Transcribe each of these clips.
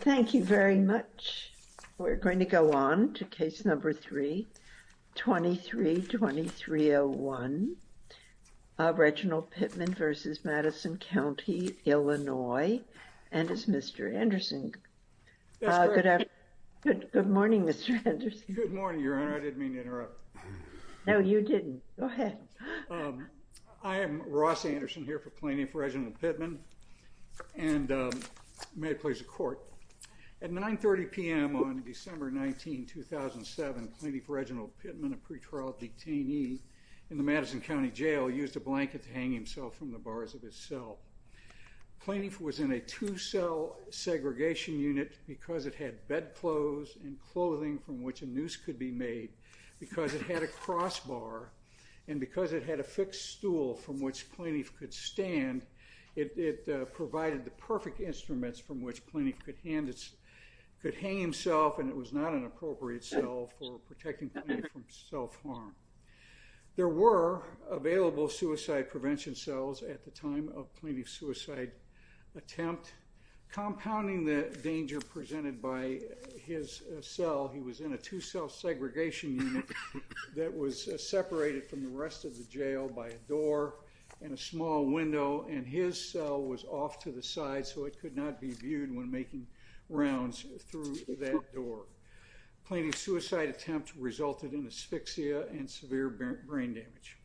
Thank you very much. We're going to go on to case number 3, 23-2301, Reginald Pittman v. Madison County, Illinois, and it's Mr. Anderson. Good morning, Mr. Anderson. Good morning, Your Honor. I didn't mean to interrupt. No, you didn't. Go ahead. I am Ross Anderson here for the Court. At 9.30 p.m. on December 19, 2007, Plaintiff Reginald Pittman, a pretrial detainee in the Madison County Jail, used a blanket to hang himself from the bars of his cell. Plaintiff was in a two-cell segregation unit because it had bedclothes and clothing from which a noose could be made, because it had a crossbar, and because it had a fixed stool from which Plaintiff could stand, it provided the perfect instruments from which Plaintiff could hang himself, and it was not an appropriate cell for protecting Plaintiff from self-harm. There were available suicide prevention cells at the time of Plaintiff's suicide attempt. Compounding the danger presented by his cell, he was in a two-cell segregation unit that was separated from the rest of the jail by a door and a small window, and his cell was off to the side so it could not be viewed when making rounds through that door. Plaintiff's suicide attempt resulted in asphyxia and severe brain damage.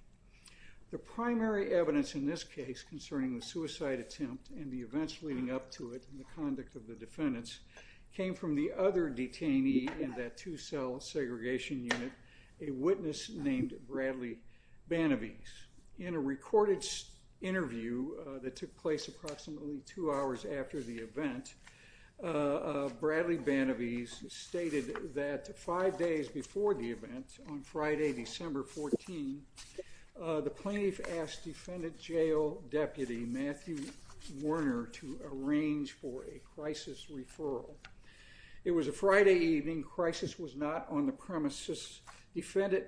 The primary evidence in this case concerning the suicide attempt and the events leading up to it and the conduct of the defendants came from the other detainee in that two-cell segregation unit, a witness named Bradley Banabese. In a recorded interview that took place approximately two hours after the event, Bradley Banabese stated that five days before the event, on Friday, December 14, the Plaintiff asked defendant jail deputy Matthew Warner to arrange for a crisis referral. It was a Friday evening. Crisis was not on the premises. Defendant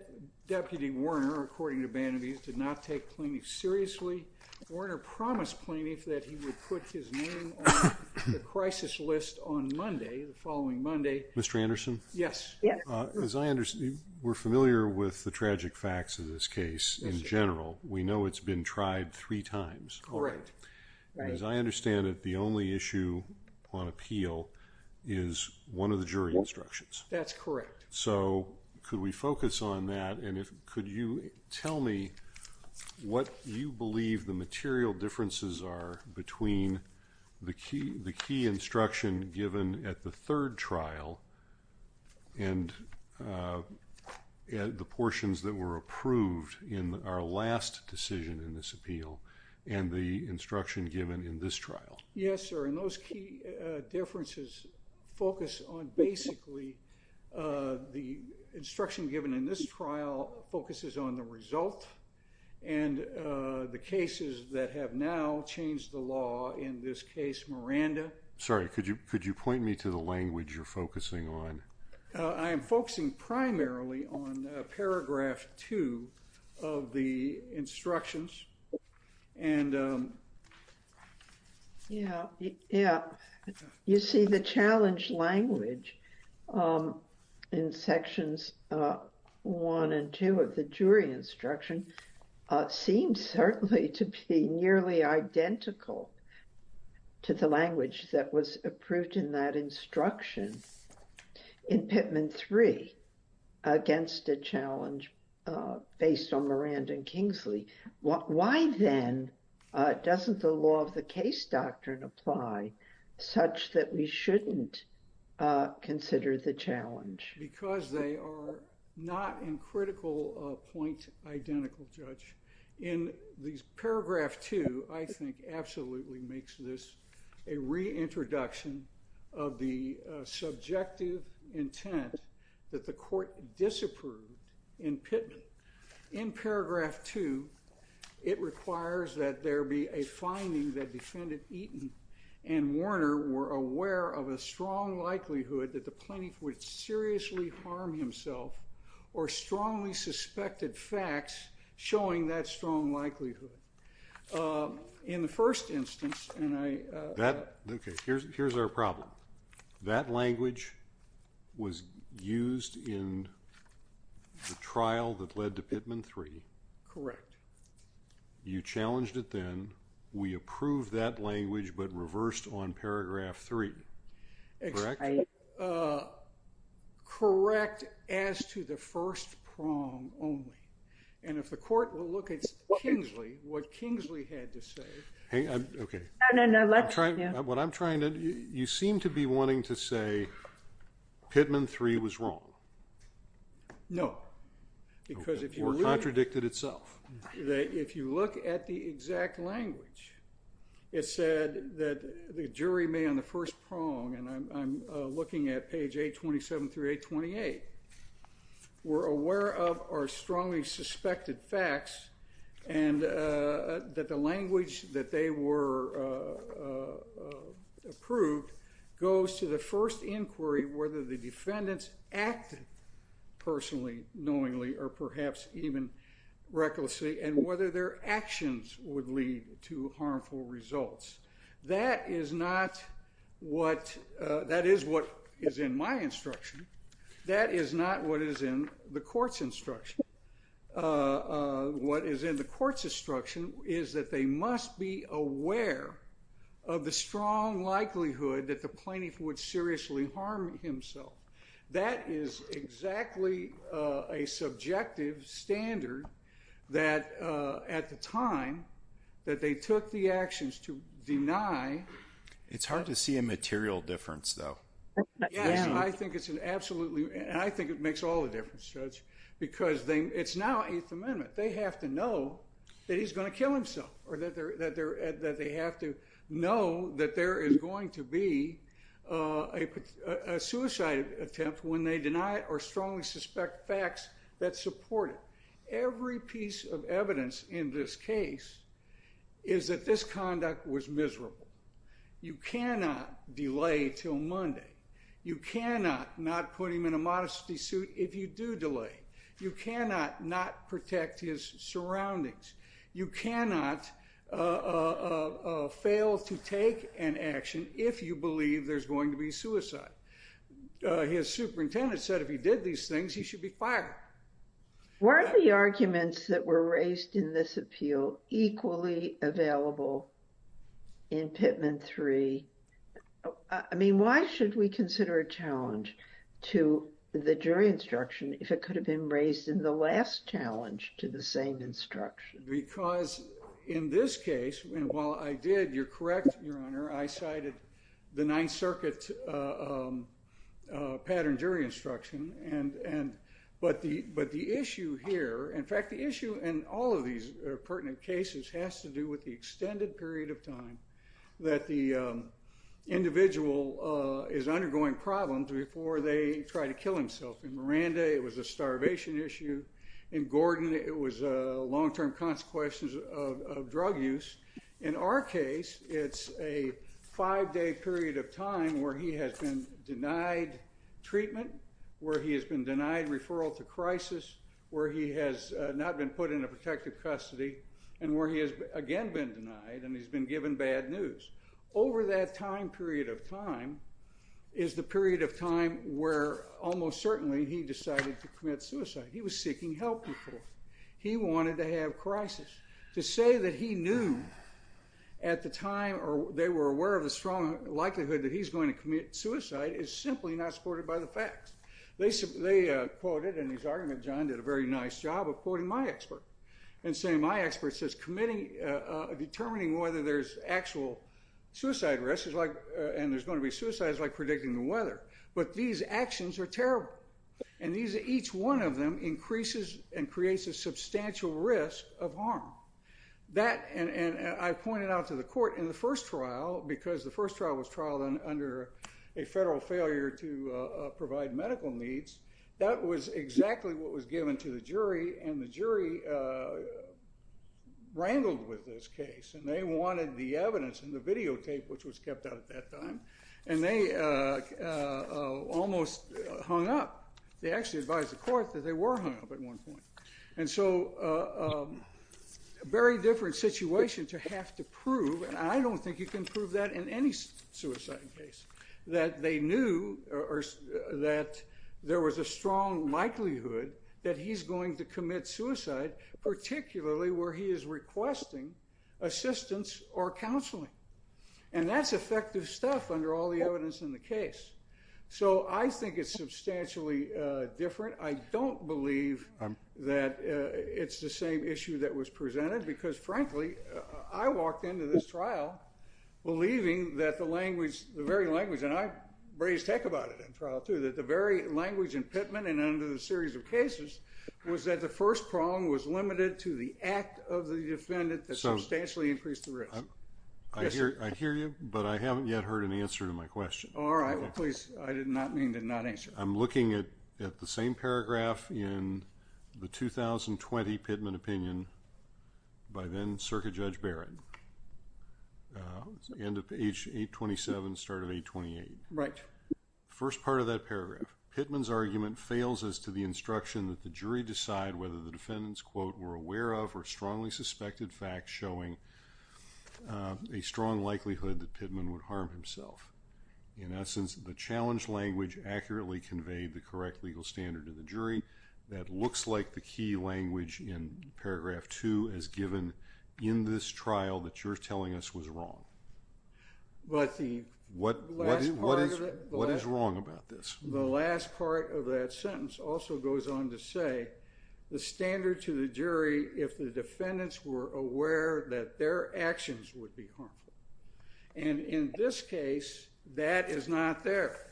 deputy Warner, according to Banabese, did not take Plaintiff seriously. Warner promised Plaintiff that he would put his name on the crisis list on Monday, the following Monday. Mr. Anderson? Yes. As I we're familiar with the tragic facts of this case in general, we know it's been tried three times. Correct. As I understand it, the only issue on appeal is one of the jury instructions. That's correct. So could we focus on that, and could you tell me what you believe the material differences are between the key instruction given at the third trial and the portions that were approved in our last decision in this appeal and the instruction given in this trial? Yes, sir. And those key differences focus on basically the instruction given in this trial focuses on the law in this case. Miranda? Sorry, could you could you point me to the language you're focusing on? I am focusing primarily on paragraph two of the instructions. And yeah, yeah, you see the challenge language in sections one and two of the jury instruction seems certainly to be nearly identical to the language that was approved in that instruction in Pittman three against a challenge based on Miranda and Kingsley. Why then doesn't the law of the case doctrine apply such that we shouldn't consider the challenge? Because they are not in critical point identical, Judge. In these paragraph two, I think absolutely makes this a reintroduction of the subjective intent that the court disapproved in Pittman. In paragraph two, it requires that there be a finding that defendant Eaton and Warner were aware of a strong likelihood that the plaintiff would seriously harm himself or strongly suspected facts showing that strong likelihood. In the first instance, and I... That, okay, here's here's our problem. That language was used in the trial that led to Pittman three. Correct. You challenged it then. We approved that in paragraph three. Correct? Correct as to the first prong only. And if the court will look at Kingsley, what Kingsley had to say... Okay. What I'm trying to... You seem to be wanting to say Pittman three was wrong. No. Because if you... Or contradicted itself. If you look at the exact language, it said that the jury may on the first prong, and I'm looking at page 827 through 828, were aware of or strongly suspected facts and that the language that they were approved goes to the first inquiry, whether the defendants act personally, knowingly, or perhaps even recklessly, and whether their actions would lead to harmful results. That is not what... That is what is in my instruction. That is not what is in the court's instruction. What is in the court's instruction is that they must be aware of the strong likelihood that the standard that at the time that they took the actions to deny... It's hard to see a material difference, though. Yes. I think it's an absolutely... And I think it makes all the difference, Judge, because it's now Eighth Amendment. They have to know that he's going to kill himself, or that they have to know that there is going to be a suicide attempt when they deny or strongly suspect facts that support it. Every piece of evidence in this case is that this conduct was miserable. You cannot delay till Monday. You cannot not put him in a modesty suit if you do delay. You cannot not protect his surroundings. You cannot fail to take an action if you believe there's going to be suicide. His superintendent said if he did these things, he should be fired. Were the arguments that were raised in this appeal equally available in Pitman 3? I mean, why should we consider a challenge to the jury instruction if it could have been raised in the last challenge to the same instruction? Because in this case, and while I did, you're correct, Your Honor, I cited the Ninth Circuit pattern jury instruction, but the issue here... In fact, the issue in all of these pertinent cases has to do with the extended period of time that the individual is undergoing problems before they try to kill himself. In Miranda, it was a starvation issue. In Gordon, it was long-term consequences of drug use. In our case, it's a five-day period of time where he has been denied treatment, where he has been denied referral to crisis, where he has not been put in a protective custody, and where he has again been denied and he's been given bad news. Over that time period of time is the period of time where almost certainly he decided to commit suicide. He was seeking help. He wanted to have crisis. To say that he knew at the time, or they were aware of the strong likelihood that he's going to commit suicide is simply not supported by the facts. They quoted, in his argument, John did a very nice job of quoting my expert, and saying my expert says determining whether there's actual suicide risk and there's going to be suicides is like predicting the weather, but these actions are terrible, and each one of them increases and creates a substantial risk of harm. And I pointed out to the court in the first trial, because the first trial was trialed under a federal failure to provide medical needs, that was exactly what was given to the jury, and the jury wrangled with this case, and they wanted the evidence in the videotape, which was kept out at that time, and they almost hung up. They actually advised the court that they were hung up at one point. And so a very different situation to have to prove, and I don't think you can prove that in any suicide case, that they knew that there was a strong likelihood that he's going to commit suicide, particularly where he is requesting assistance or counseling. And that's effective stuff under all the evidence in the case. So I think it's substantially different. I don't believe that it's the same issue that was presented, because frankly, I walked into this trial believing that the language, the very language, and I've raised tech about it in trial too, that the very language and pitman and under the series of cases was that the first prong was limited to the act of the defendant that substantially increased the risk. I hear you, but I haven't yet heard an answer to my question. All right, please. I did not mean to not answer. I'm looking at the same paragraph in the 2020 Pitman opinion by then Circuit Judge Barrett, end of page 827, start of 828. First part of that paragraph, Pitman's argument fails as to the instruction that the jury decide whether the defendant's quote were aware of or strongly suspected facts showing a strong likelihood that Pitman would the correct legal standard to the jury. That looks like the key language in paragraph two as given in this trial that you're telling us was wrong. What is wrong about this? The last part of that sentence also goes on to say the standard to the jury if the defendants were aware that their actions would be harmful. And in this case, that is not there.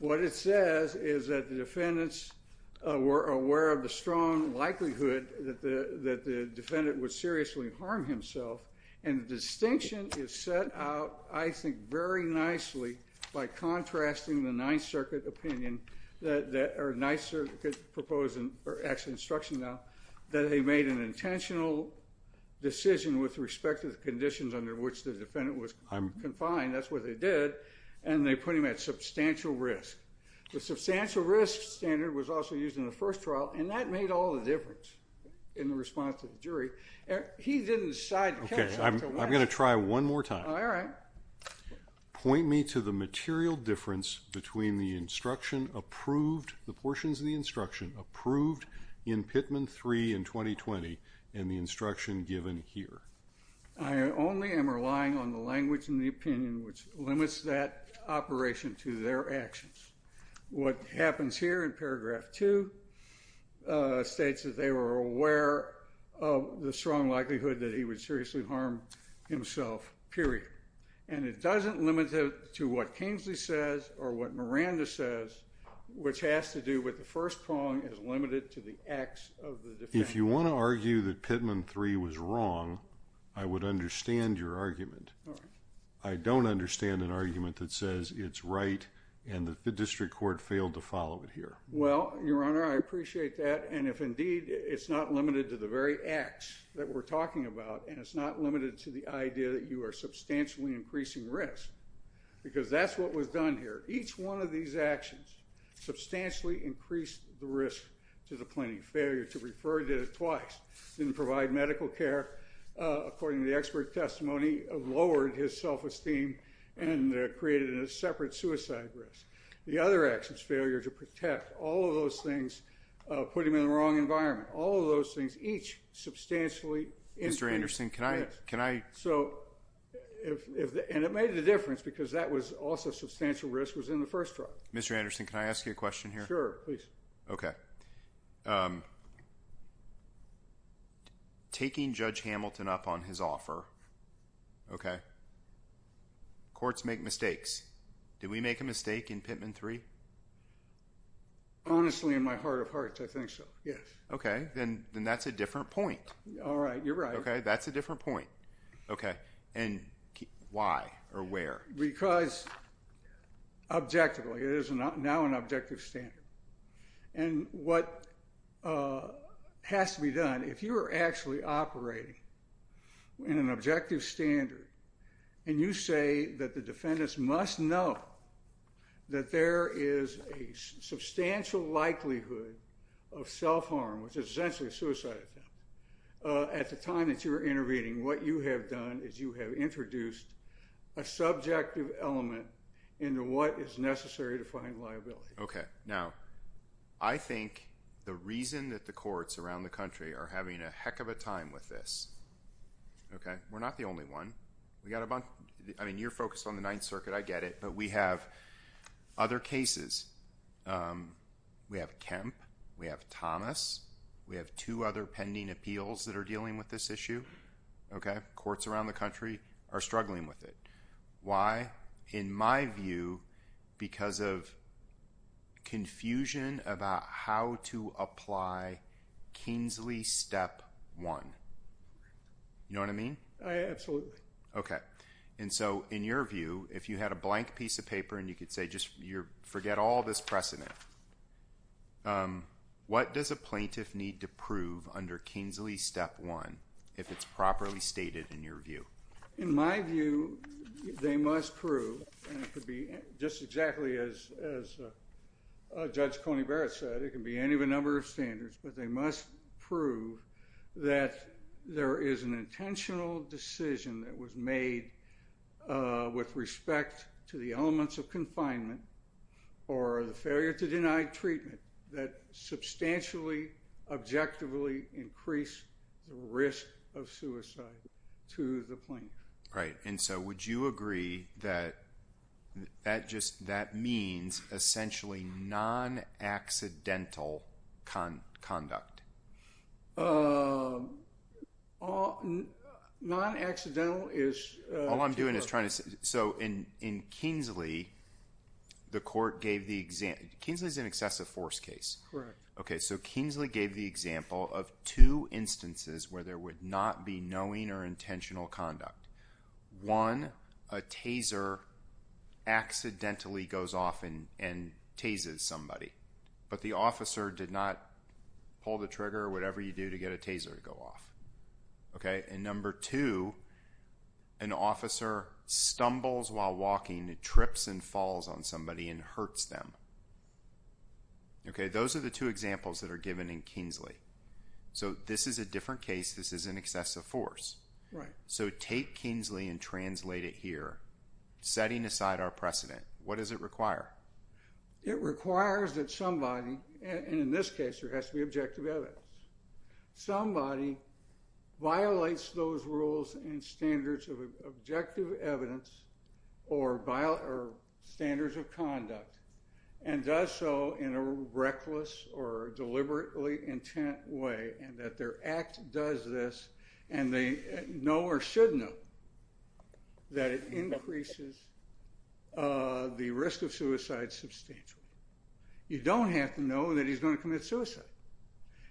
What it says is that the defendants were aware of the strong likelihood that the defendant would seriously harm himself. And the distinction is set out, I think, very nicely by contrasting the Ninth Circuit opinion that, or Ninth Circuit proposing, or actually instruction now, that they made an intentional decision with respect to the conditions under which the defendant was confined, that's what they did, and they put him at substantial risk. The substantial risk standard was also used in the first trial and that made all the difference in the response to the jury. He didn't decide to kill himself. Okay, I'm going to try one more time. All right. Point me to the material difference between the instruction approved, the portions of the given here. I only am relying on the language and the opinion which limits that operation to their actions. What happens here in paragraph two states that they were aware of the strong likelihood that he would seriously harm himself, period. And it doesn't limit it to what Kingsley says or what Miranda says, which has to do with the first prong is limited to the acts of the defendant. If you want to argue that Pittman III was wrong, I would understand your argument. All right. I don't understand an argument that says it's right and that the district court failed to follow it here. Well, Your Honor, I appreciate that and if indeed it's not limited to the very acts that we're talking about and it's not limited to the idea that you are substantially increasing risk, because that's what was done here. Each one of these actions substantially increased the risk to the plaintiff. Failure to refer, did it twice, didn't provide medical care, according to the expert testimony, lowered his self-esteem and created a separate suicide risk. The other actions, failure to protect, all of those things put him in the wrong environment. All of those things, each substantially increased risk. Mr. Anderson, can I, can I... So if, and it made the difference because that was also substantial risk was in the first trial. Mr. Anderson, can I ask you a question here? Sure, please. Okay. Taking Judge Hamilton up on his offer, okay, courts make mistakes. Did we make a mistake in Pittman III? Honestly, in my heart of hearts, I think so, yes. Okay. Then that's a different point. All right. You're right. Okay. That's a different point. Okay. And why or where? Because objectively, it is now an objective standard. And what has to be done, if you are actually operating in an objective standard, and you say that the defendants must know that there is a substantial likelihood of self-harm, which is essentially a suicide attempt, at the time that you were intervening, what you have done is you have introduced a subjective element into what is necessary to find liability. Okay. Now, I think the reason that the courts around the country are having a heck of a time with this, okay, we're not the only one. We got a bunch, I mean, you're focused on the Ninth Circuit. I get it. But we have other cases. We have Kemp. We have Thomas. We have two other appeals that are dealing with this issue. Okay. Courts around the country are struggling with it. Why? In my view, because of confusion about how to apply Kingsley Step 1. You know what I mean? I absolutely. Okay. And so, in your view, if you had a blank piece of paper, and you could say, forget all this precedent, what does a plaintiff need to prove under Kingsley Step 1, if it's properly stated in your view? In my view, they must prove, and it could be just exactly as Judge Coney Barrett said, it could be any of a number of standards, but they must prove that there is an intentional decision that was made with respect to the elements of confinement or the failure to deny treatment that substantially, objectively increased the risk of suicide to the plaintiff. Right. And so, would you agree that that means essentially non-accidental conduct? Non-accidental is... All I'm doing is trying to... So, in Kingsley, the court gave the example... Kingsley is an excessive force case. Correct. Okay. So, Kingsley gave the example of two instances where there would not be knowing or intentional conduct. One, a taser accidentally goes off and tases somebody, but the officer did not pull the trigger or whatever you do to get a taser to go off. Okay. And number two, an officer stumbles while walking, trips and falls on somebody and hurts them. Okay. Those are the two examples that are given in Kingsley. So, this is a different case, this is an excessive force. Right. So, take Kingsley and translate it here, setting aside our precedent, what does it require? It requires that somebody, and in this case, there has to be objective evidence, somebody violates those rules and standards of objective evidence or standards of conduct and does so in a reckless or deliberately intent way, and that their act does this, and they know or should know that it increases the risk of suicide substantially. You don't have to know that he's going to commit suicide.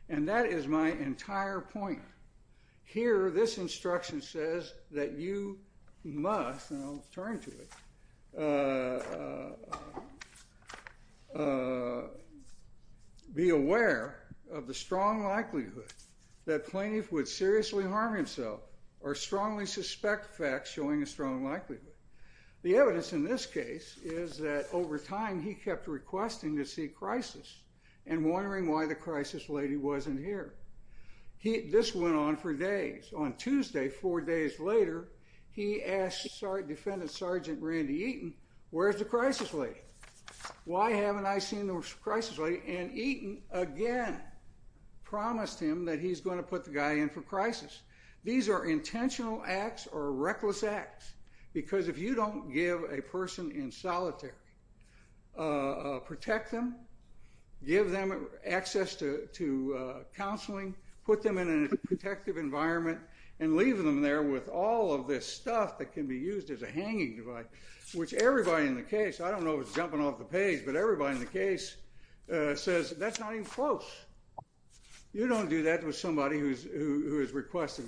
And that is my entire point. Here, this instruction says that you must, and I'll turn to it, that you must be aware of the strong likelihood that plaintiff would seriously harm himself or strongly suspect facts showing a strong likelihood. The evidence in this case is that over time, he kept requesting to see crisis and wondering why the crisis lady wasn't here. This went on for days. On Tuesday, four days later, he asked Defendant Sergeant Randy Eaton, where's the crisis lady? Why haven't I seen the crisis lady? And Eaton, again, promised him that he's going to put the guy in for crisis. These are intentional acts or reckless acts, because if you don't give a person in solitary, protect them, give them access to counseling, put them in a protective environment, and leave them there with all of this stuff that can be used as a hanging device, which everybody in the case, I don't know if it's jumping off the page, but everybody in the case says that's not even close. You don't do that with somebody who is requesting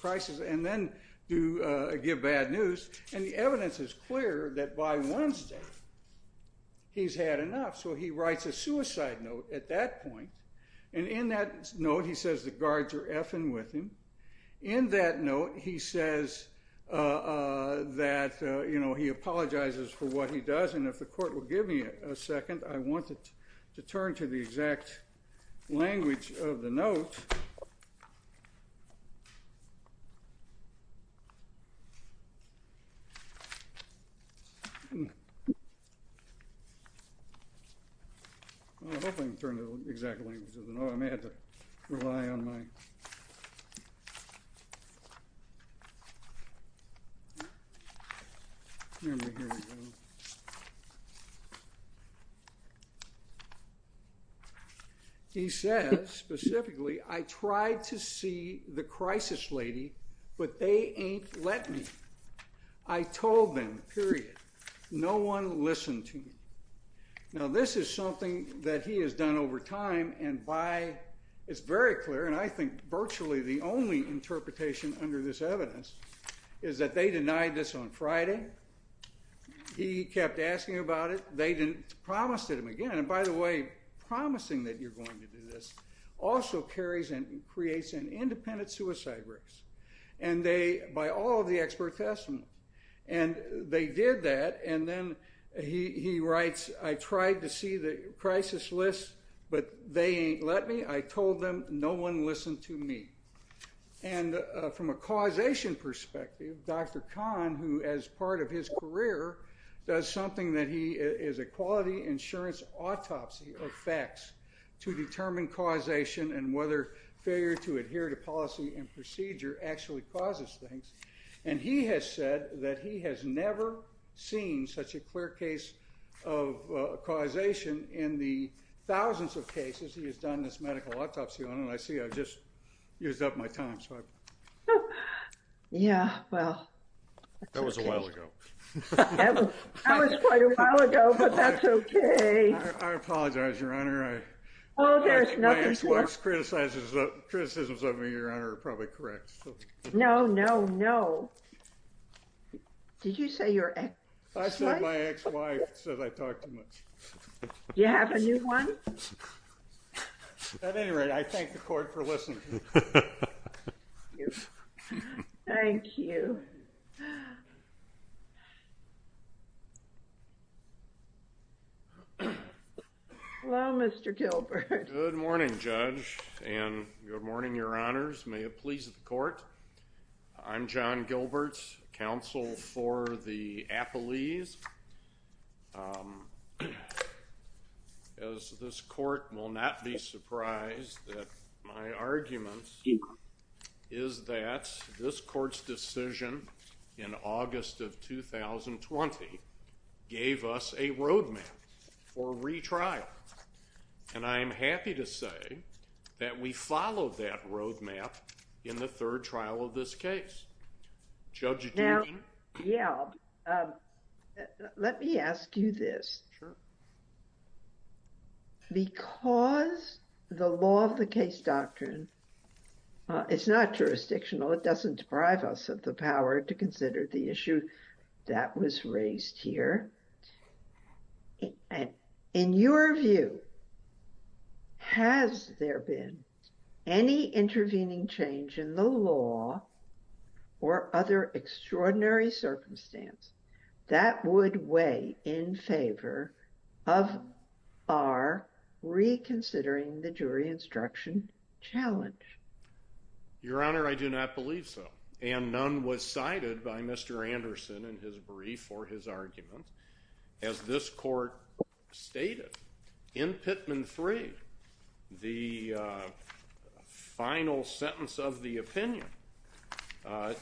crisis and then give bad news. And the evidence is clear that by Wednesday, he's had enough. So he writes a suicide note at that point. And in that note, he says the guards are effing with him. In that note, he says that, you know, he apologizes for what he does. And if the court will give me a second, I want to turn to the exact language of the note. I hope I can turn to the exact language of the note. I may have to rely on my memory here. He says, specifically, I tried to see the crisis lady, but they ain't let me. I told them, period. No one listened to me. Now, this is something that he has done over time, and by, it's very clear, and I think virtually the only interpretation under this evidence, is that they denied this on Friday. He kept asking about it. They didn't, promised him again, and by the way, promising that you're going to do this also carries and creates an independent suicide risk. And they, by all of the expert testimony, and they did that, and then he writes, I tried to see the crisis list, but they ain't let me. I told them, no one listened to me. And from a causation perspective, Dr. Khan, who, as part of his career, does something that he is a quality insurance autopsy of facts to determine causation and whether failure to adhere to policy and procedure actually causes things, and he has said that he has never seen such a clear case of causation in the thousands of cases he has done this medical autopsy on, and I see I've just used up my time, so I. Yeah, well. That was a while ago. That was quite a while ago, but that's okay. I apologize, Your Honor. My ex-wife's criticisms of me, Your Honor, are probably correct. No, no, no. Did you say your ex-wife? I said my ex-wife said I talked too much. You have a new one? At any rate, I thank the court for listening. Thank you. Hello, Mr. Gilbert. Good morning, Judge, and good morning, Your Honors. May it please the surprise that my argument is that this court's decision in August of 2020 gave us a road map for retrial, and I am happy to say that we followed that road map in the third trial of this case. Judge, do you agree? Now, yeah. Let me ask you this. Because the law of the case doctrine is not jurisdictional, it doesn't deprive us of the power to consider the issue that was raised here. In your view, has there been any intervening change in the law or other extraordinary circumstance that would weigh in favor of our reconsidering the jury instruction challenge? Your Honor, I do not believe so, and none was cited by Mr. Anderson in his brief or his argument. As this court stated, in Pitman 3, the final sentence of the opinion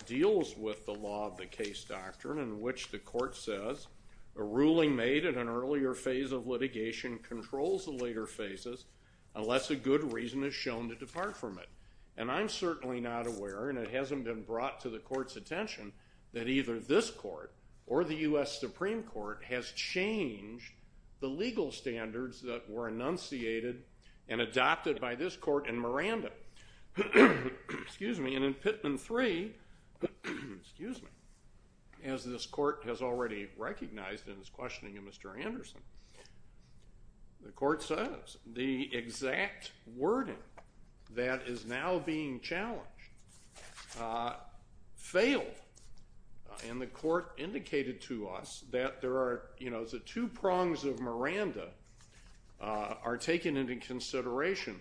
deals with the law of the case doctrine in which the court says a ruling made in an earlier phase of litigation controls the later phases unless a good reason is shown to depart from it. And I'm certainly not aware, and it hasn't been brought to the court's attention, that either this court or the U.S. Supreme Court has changed the legal standards that were enunciated and adopted by this court in Miranda. And in Pitman 3, as this court has already recognized in its questioning of Mr. Anderson, the court says the exact wording that is now being challenged has failed. And the court indicated to us that the two prongs of Miranda are taken into consideration.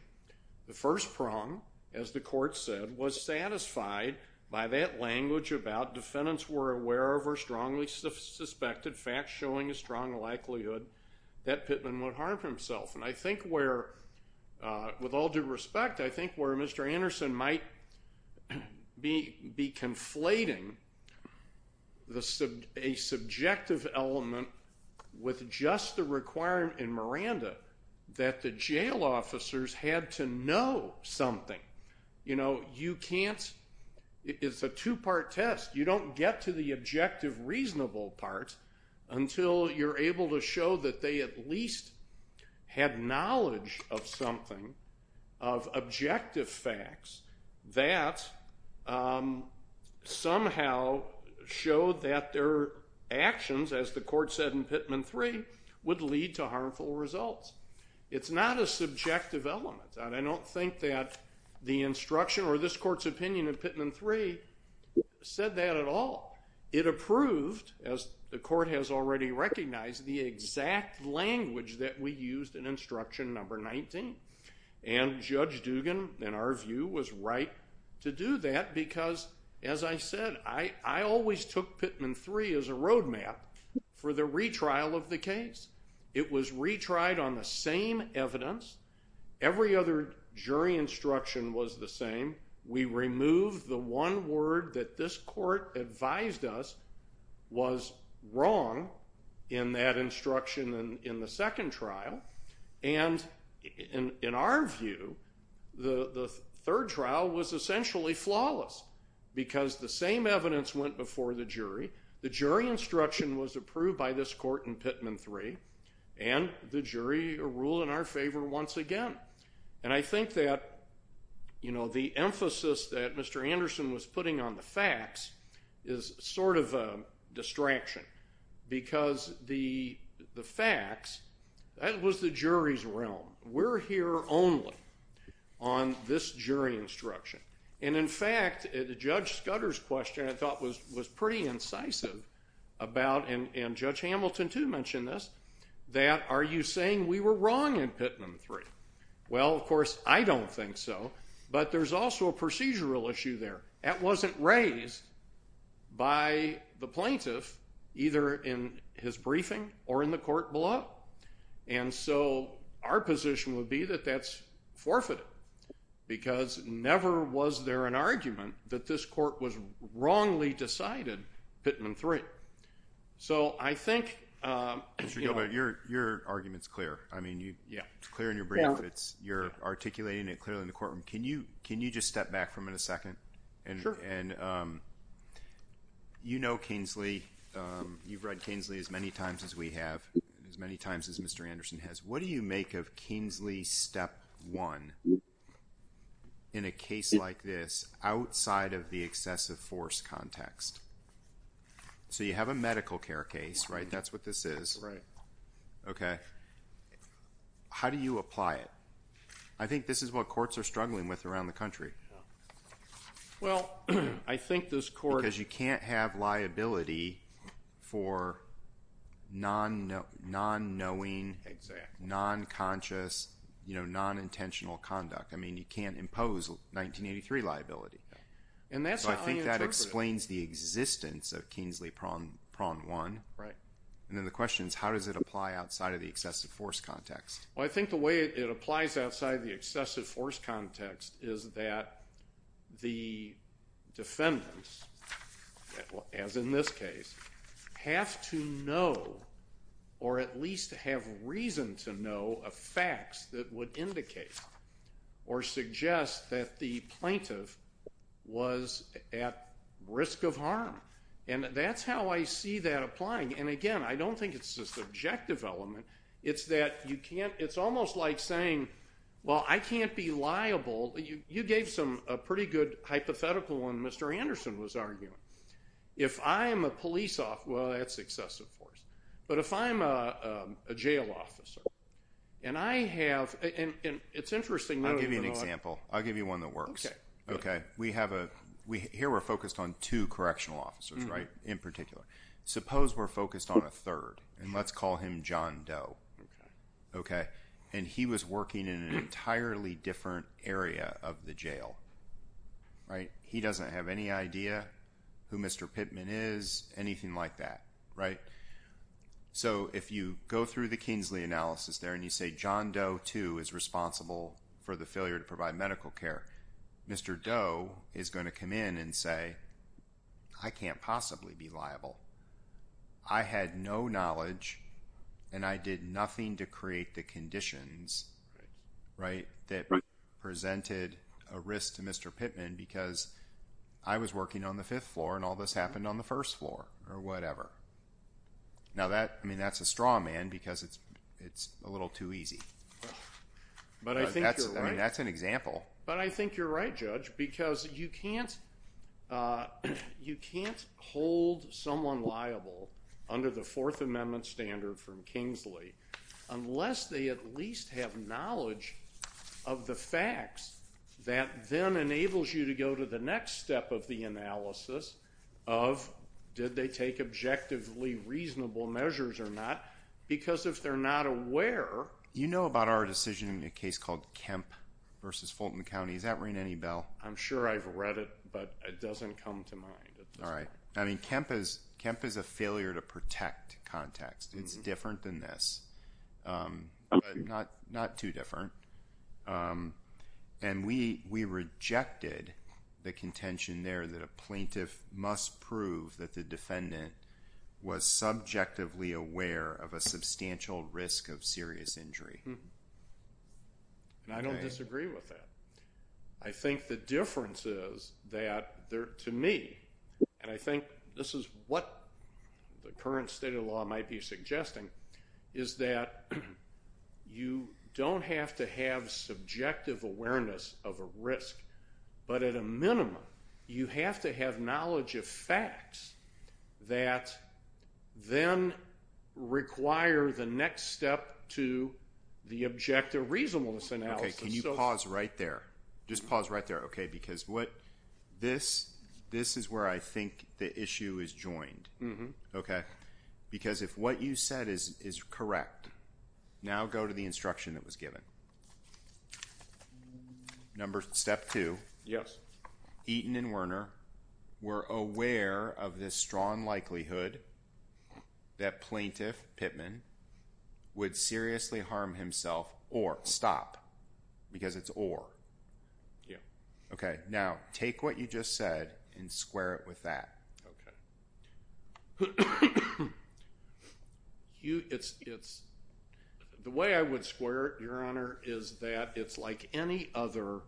The first prong, as the court said, was satisfied by that language about defendants were aware of or strongly suspected, facts showing a strong likelihood that Pitman would harm himself. And I think where, with all due respect, I think where Mr. Anderson might be conflating a subjective element with just the requirement in Miranda that the jail officers had to know something. You know, you can't, it's a two-part test. You don't get to the objective reasonable part until you're able to show that they at least had knowledge of something, of objective facts, that somehow showed that their actions, as the court said in Pitman 3, would lead to harmful results. It's not a subjective element. I don't think that the instruction or this court's opinion in Pitman 3 said that at all. It approved, as the court has already recognized, the exact language that we used in instruction number 19. And Judge Dugan, in our view, was right to do that because, as I said, I always took Pitman 3 as a roadmap for the retrial of the case. It was retried on the same evidence. Every other jury instruction was the same. We removed the one word that this court advised us was wrong in that instruction in the second trial. And in our view, the third trial was essentially flawless because the same evidence went before the jury. The jury instruction was approved by this court in Pitman 3, and the jury ruled in our favor once again. And I think that the emphasis that Mr. Anderson was putting on the facts is sort of a distraction because the facts, that was the jury's realm. We're here only on this jury instruction. And in fact, Judge Scudder's question, I thought, was pretty incisive about, and Judge Hamilton, too, mentioned this, that are you saying we were wrong in Pitman 3? Well, of course, I don't think so. But there's also a procedural issue there. That wasn't raised by the plaintiff, either in his briefing or in the court below. And so our position would be that that's forfeited because never was there an argument that this court had decided Pitman 3. So I think... Mr. Gilbert, your argument's clear. I mean, it's clear in your brief. You're articulating it clearly in the courtroom. Can you just step back for a minute, a second? Sure. And you know Kingsley. You've read Kingsley as many times as we have, as many times as Mr. Anderson has. What do you make of Kingsley Step 1 in a case like this outside of the excessive force context? So you have a medical care case, right? That's what this is. Right. Okay. How do you apply it? I think this is what courts are struggling with around the country. Well, I think this court... Because you can't have liability for non-knowing, non-conscious, you know, non-intentional conduct. I mean, you can't impose 1983 liability. And that's how I interpret it. So I think that explains the existence of Kingsley Prawn 1. Right. And then the question is how does it apply outside of the excessive force context? Well, I think the way it applies outside of the excessive force context is that the defendants, as in this case, have to know or at least have reason to know of facts that would indicate or suggest that the plaintiff was at risk of harm. And that's how I see that applying. And again, I don't think it's a subjective element. It's that you can't... It's almost like saying, well, I can't be liable. You gave a pretty good hypothetical when Mr. Anderson was arguing. If I'm a police officer, well, that's excessive force. But if I'm a jail officer and I have... It's interesting. I'll give you an example. I'll give you one that works. Okay. Here we're focused on two correctional officers, right, in particular. Suppose we're focused on a third, and let's call him John Doe. Okay. And he was working in an entirely different area of the jail. Right. He doesn't have any idea who Mr. Pittman is, anything like that. Right. So, if you go through the Kingsley analysis there and you say John Doe too is responsible for the failure to provide medical care, Mr. Doe is going to come in and say, I can't possibly be liable. I had no knowledge, and I did nothing to create the conditions, right, that presented a risk to Mr. Pittman because I was working on the fifth floor and all this happened on the first floor, or whatever. Now that, I mean, that's a straw man because it's a little too easy. But I think you're right. That's an example. But I think you're right, Judge, because you can't hold someone liable under the Fourth Amendment standard from Kingsley unless they at least have knowledge of the facts that then enables you to go to the next step of the analysis of did they take objectively reasonable measures or not because if they're not aware. You know about our decision in a case called Kemp versus Fulton County. Does that ring any bell? I'm sure I've read it, but it doesn't come to mind at this point. All right. I mean, Kemp is a failure to protect context. It's different than this, but not too different. And we rejected the contention there that a plaintiff must prove that the defendant was subjectively aware of a substantial risk of serious injury. Mm-hmm. And I don't disagree with that. I think the difference is that to me, and I think this is what the current state of law might be suggesting, is that you don't have to have subjective awareness of a risk, but at a minimum you have to have knowledge of facts that then require the next step to the objective reasonableness analysis. Okay. Can you pause right there? Just pause right there, okay? Because this is where I think the issue is joined. Mm-hmm. Okay? Because if what you said is correct, now go to the instruction that was given. Mm-hmm. Step two. Yes. Eaton and Werner were aware of this strong likelihood that plaintiff Pittman would seriously harm himself or stop, because it's or. Yeah. Okay. Now, take what you just said and square it with that. Okay. The way I would square it, Your Honor, is that it's like any other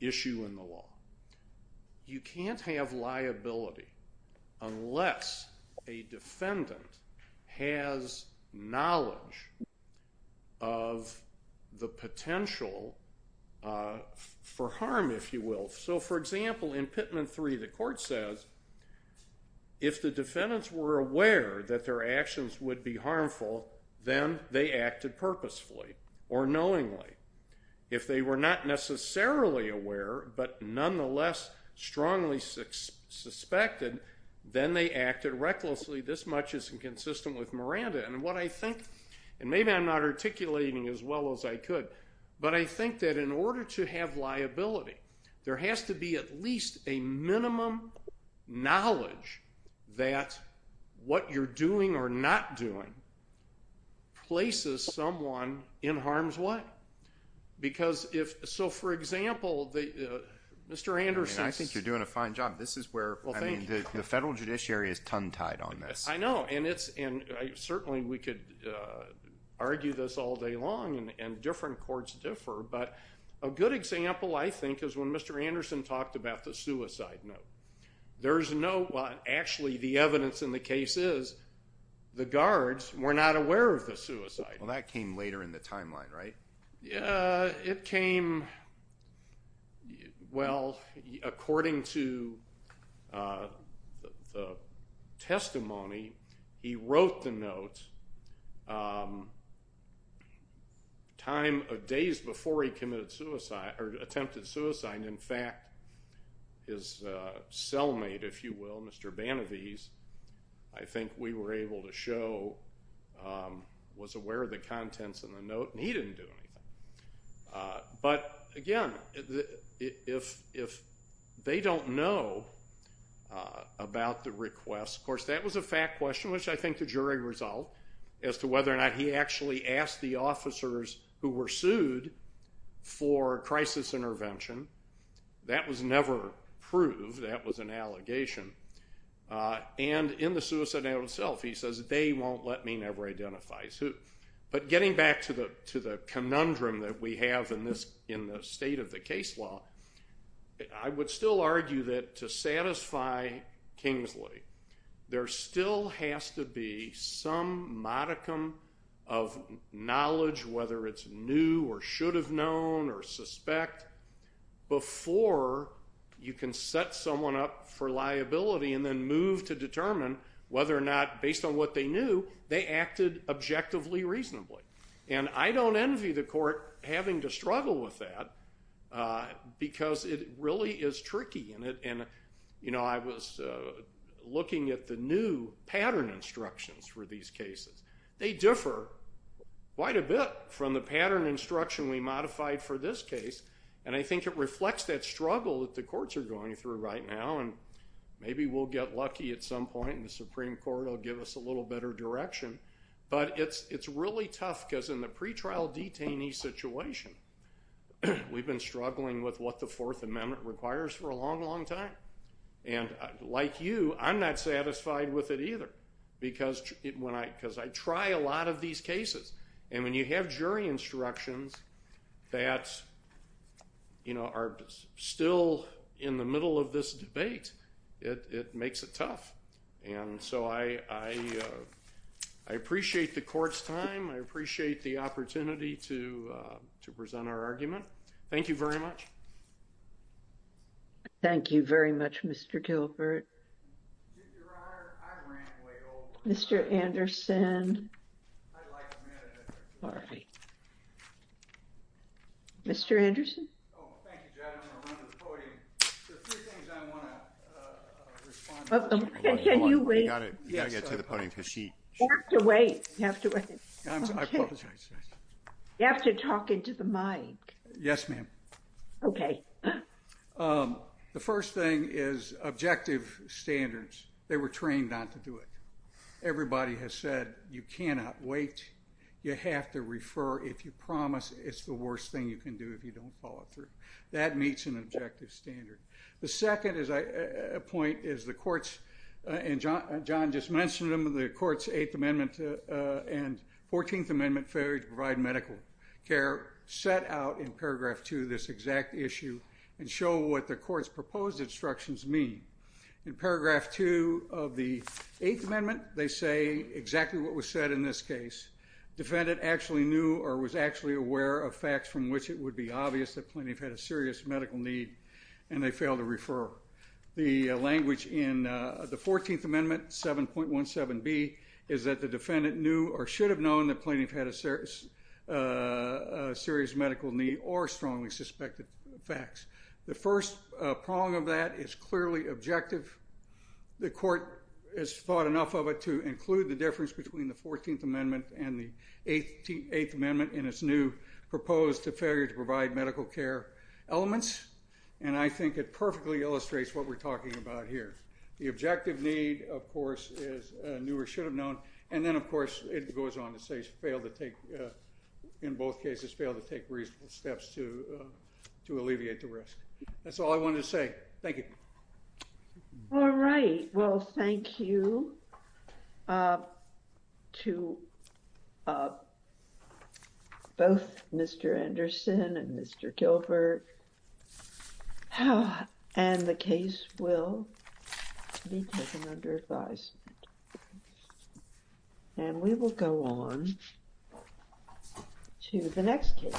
issue in the law. You can't have liability unless a defendant has knowledge of the potential for harm, if you will. So, for example, in Pittman 3, the court says, if the defendants were aware that their actions would be harmful, then they acted purposefully or knowingly. If they were not necessarily aware, but nonetheless strongly suspected, then they acted recklessly. This much is inconsistent with Miranda. And what I think, and maybe I'm not articulating as well as I could, but I think that in order to have liability, there has to be at least a minimum knowledge that what you're doing or not doing places someone in harm's way. Because if, so, for example, Mr. Anderson. I think you're doing a fine job. This is where, I mean, the federal judiciary is tongue-tied on this. I know, and certainly we could argue this all day long, and different courts differ, but a good example, I think, is when Mr. Anderson talked about the suicide note. There's no, well, actually the evidence in the case is the guards were not aware of the suicide. Well, that came later in the timeline, right? Yeah, it came, well, according to the testimony, he wrote the note time of days before he committed suicide, or attempted suicide. In fact, his cellmate, if you will, Mr. Banavese, I think we were able to show was aware of the contents in the note, and he didn't do anything. But, again, if they don't know about the request, of course, that was a fact question, which I think the jury resolved as to whether or not he actually asked the officers who were sued for crisis intervention. That was never proved. That was an allegation. And in the suicide note itself, he says, they won't let me never identify as who. But getting back to the conundrum that we have in the state of the case law, I would still argue that to satisfy Kingsley, there still has to be some modicum of knowledge, whether it's new or should have known or suspect, before you can set someone up for liability and move to determine whether or not, based on what they knew, they acted objectively reasonably. And I don't envy the court having to struggle with that, because it really is tricky. I was looking at the new pattern instructions for these cases. They differ quite a bit from the pattern instruction we modified for this case, and I think it reflects that struggle that the Supreme Court will give us a little better direction. But it's really tough, because in the pretrial detainee situation, we've been struggling with what the Fourth Amendment requires for a long, long time. And like you, I'm not satisfied with it either, because I try a lot of these cases. And when you have jury instructions that, you know, are still in the middle of this debate, it makes it tough. And so I appreciate the court's time. I appreciate the opportunity to present our argument. Thank you very much. Thank you very much, Mr. Gilbert. Mr. Anderson. I just want to respond. Can you wait? You have to wait. I apologize. You have to talk into the mic. Yes, ma'am. Okay. The first thing is objective standards. They were trained not to do it. Everybody has said you cannot wait. You have to refer. If you promise, it's the worst thing you can do if you don't follow through. That meets an objective standard. The second point is the court's, and John just mentioned them, the court's Eighth Amendment and Fourteenth Amendment failure to provide medical care set out in paragraph two this exact issue and show what the court's proposed instructions mean. In paragraph two of the Eighth Amendment, they say exactly what was said in this case. Defendant actually knew or was actually aware of facts from which it would be obvious that the plaintiff had a serious medical need and they failed to refer. The language in the Fourteenth Amendment 7.17b is that the defendant knew or should have known the plaintiff had a serious medical need or strongly suspected facts. The first prong of that is clearly objective. The court has thought enough of it to include the difference between the Fourteenth Amendment and the Eighth Amendment in its new proposed to failure to provide medical care elements. And I think it perfectly illustrates what we're talking about here. The objective need, of course, is knew or should have known. And then, of course, it goes on to say failed to take, in both cases, failed to take reasonable steps to alleviate the risk. That's all I wanted to say. Thank you. All right. Well, thank you to both Mr. Anderson and Mr. Gilbert. And the case will be taken under advisement. And we will go on to the next case.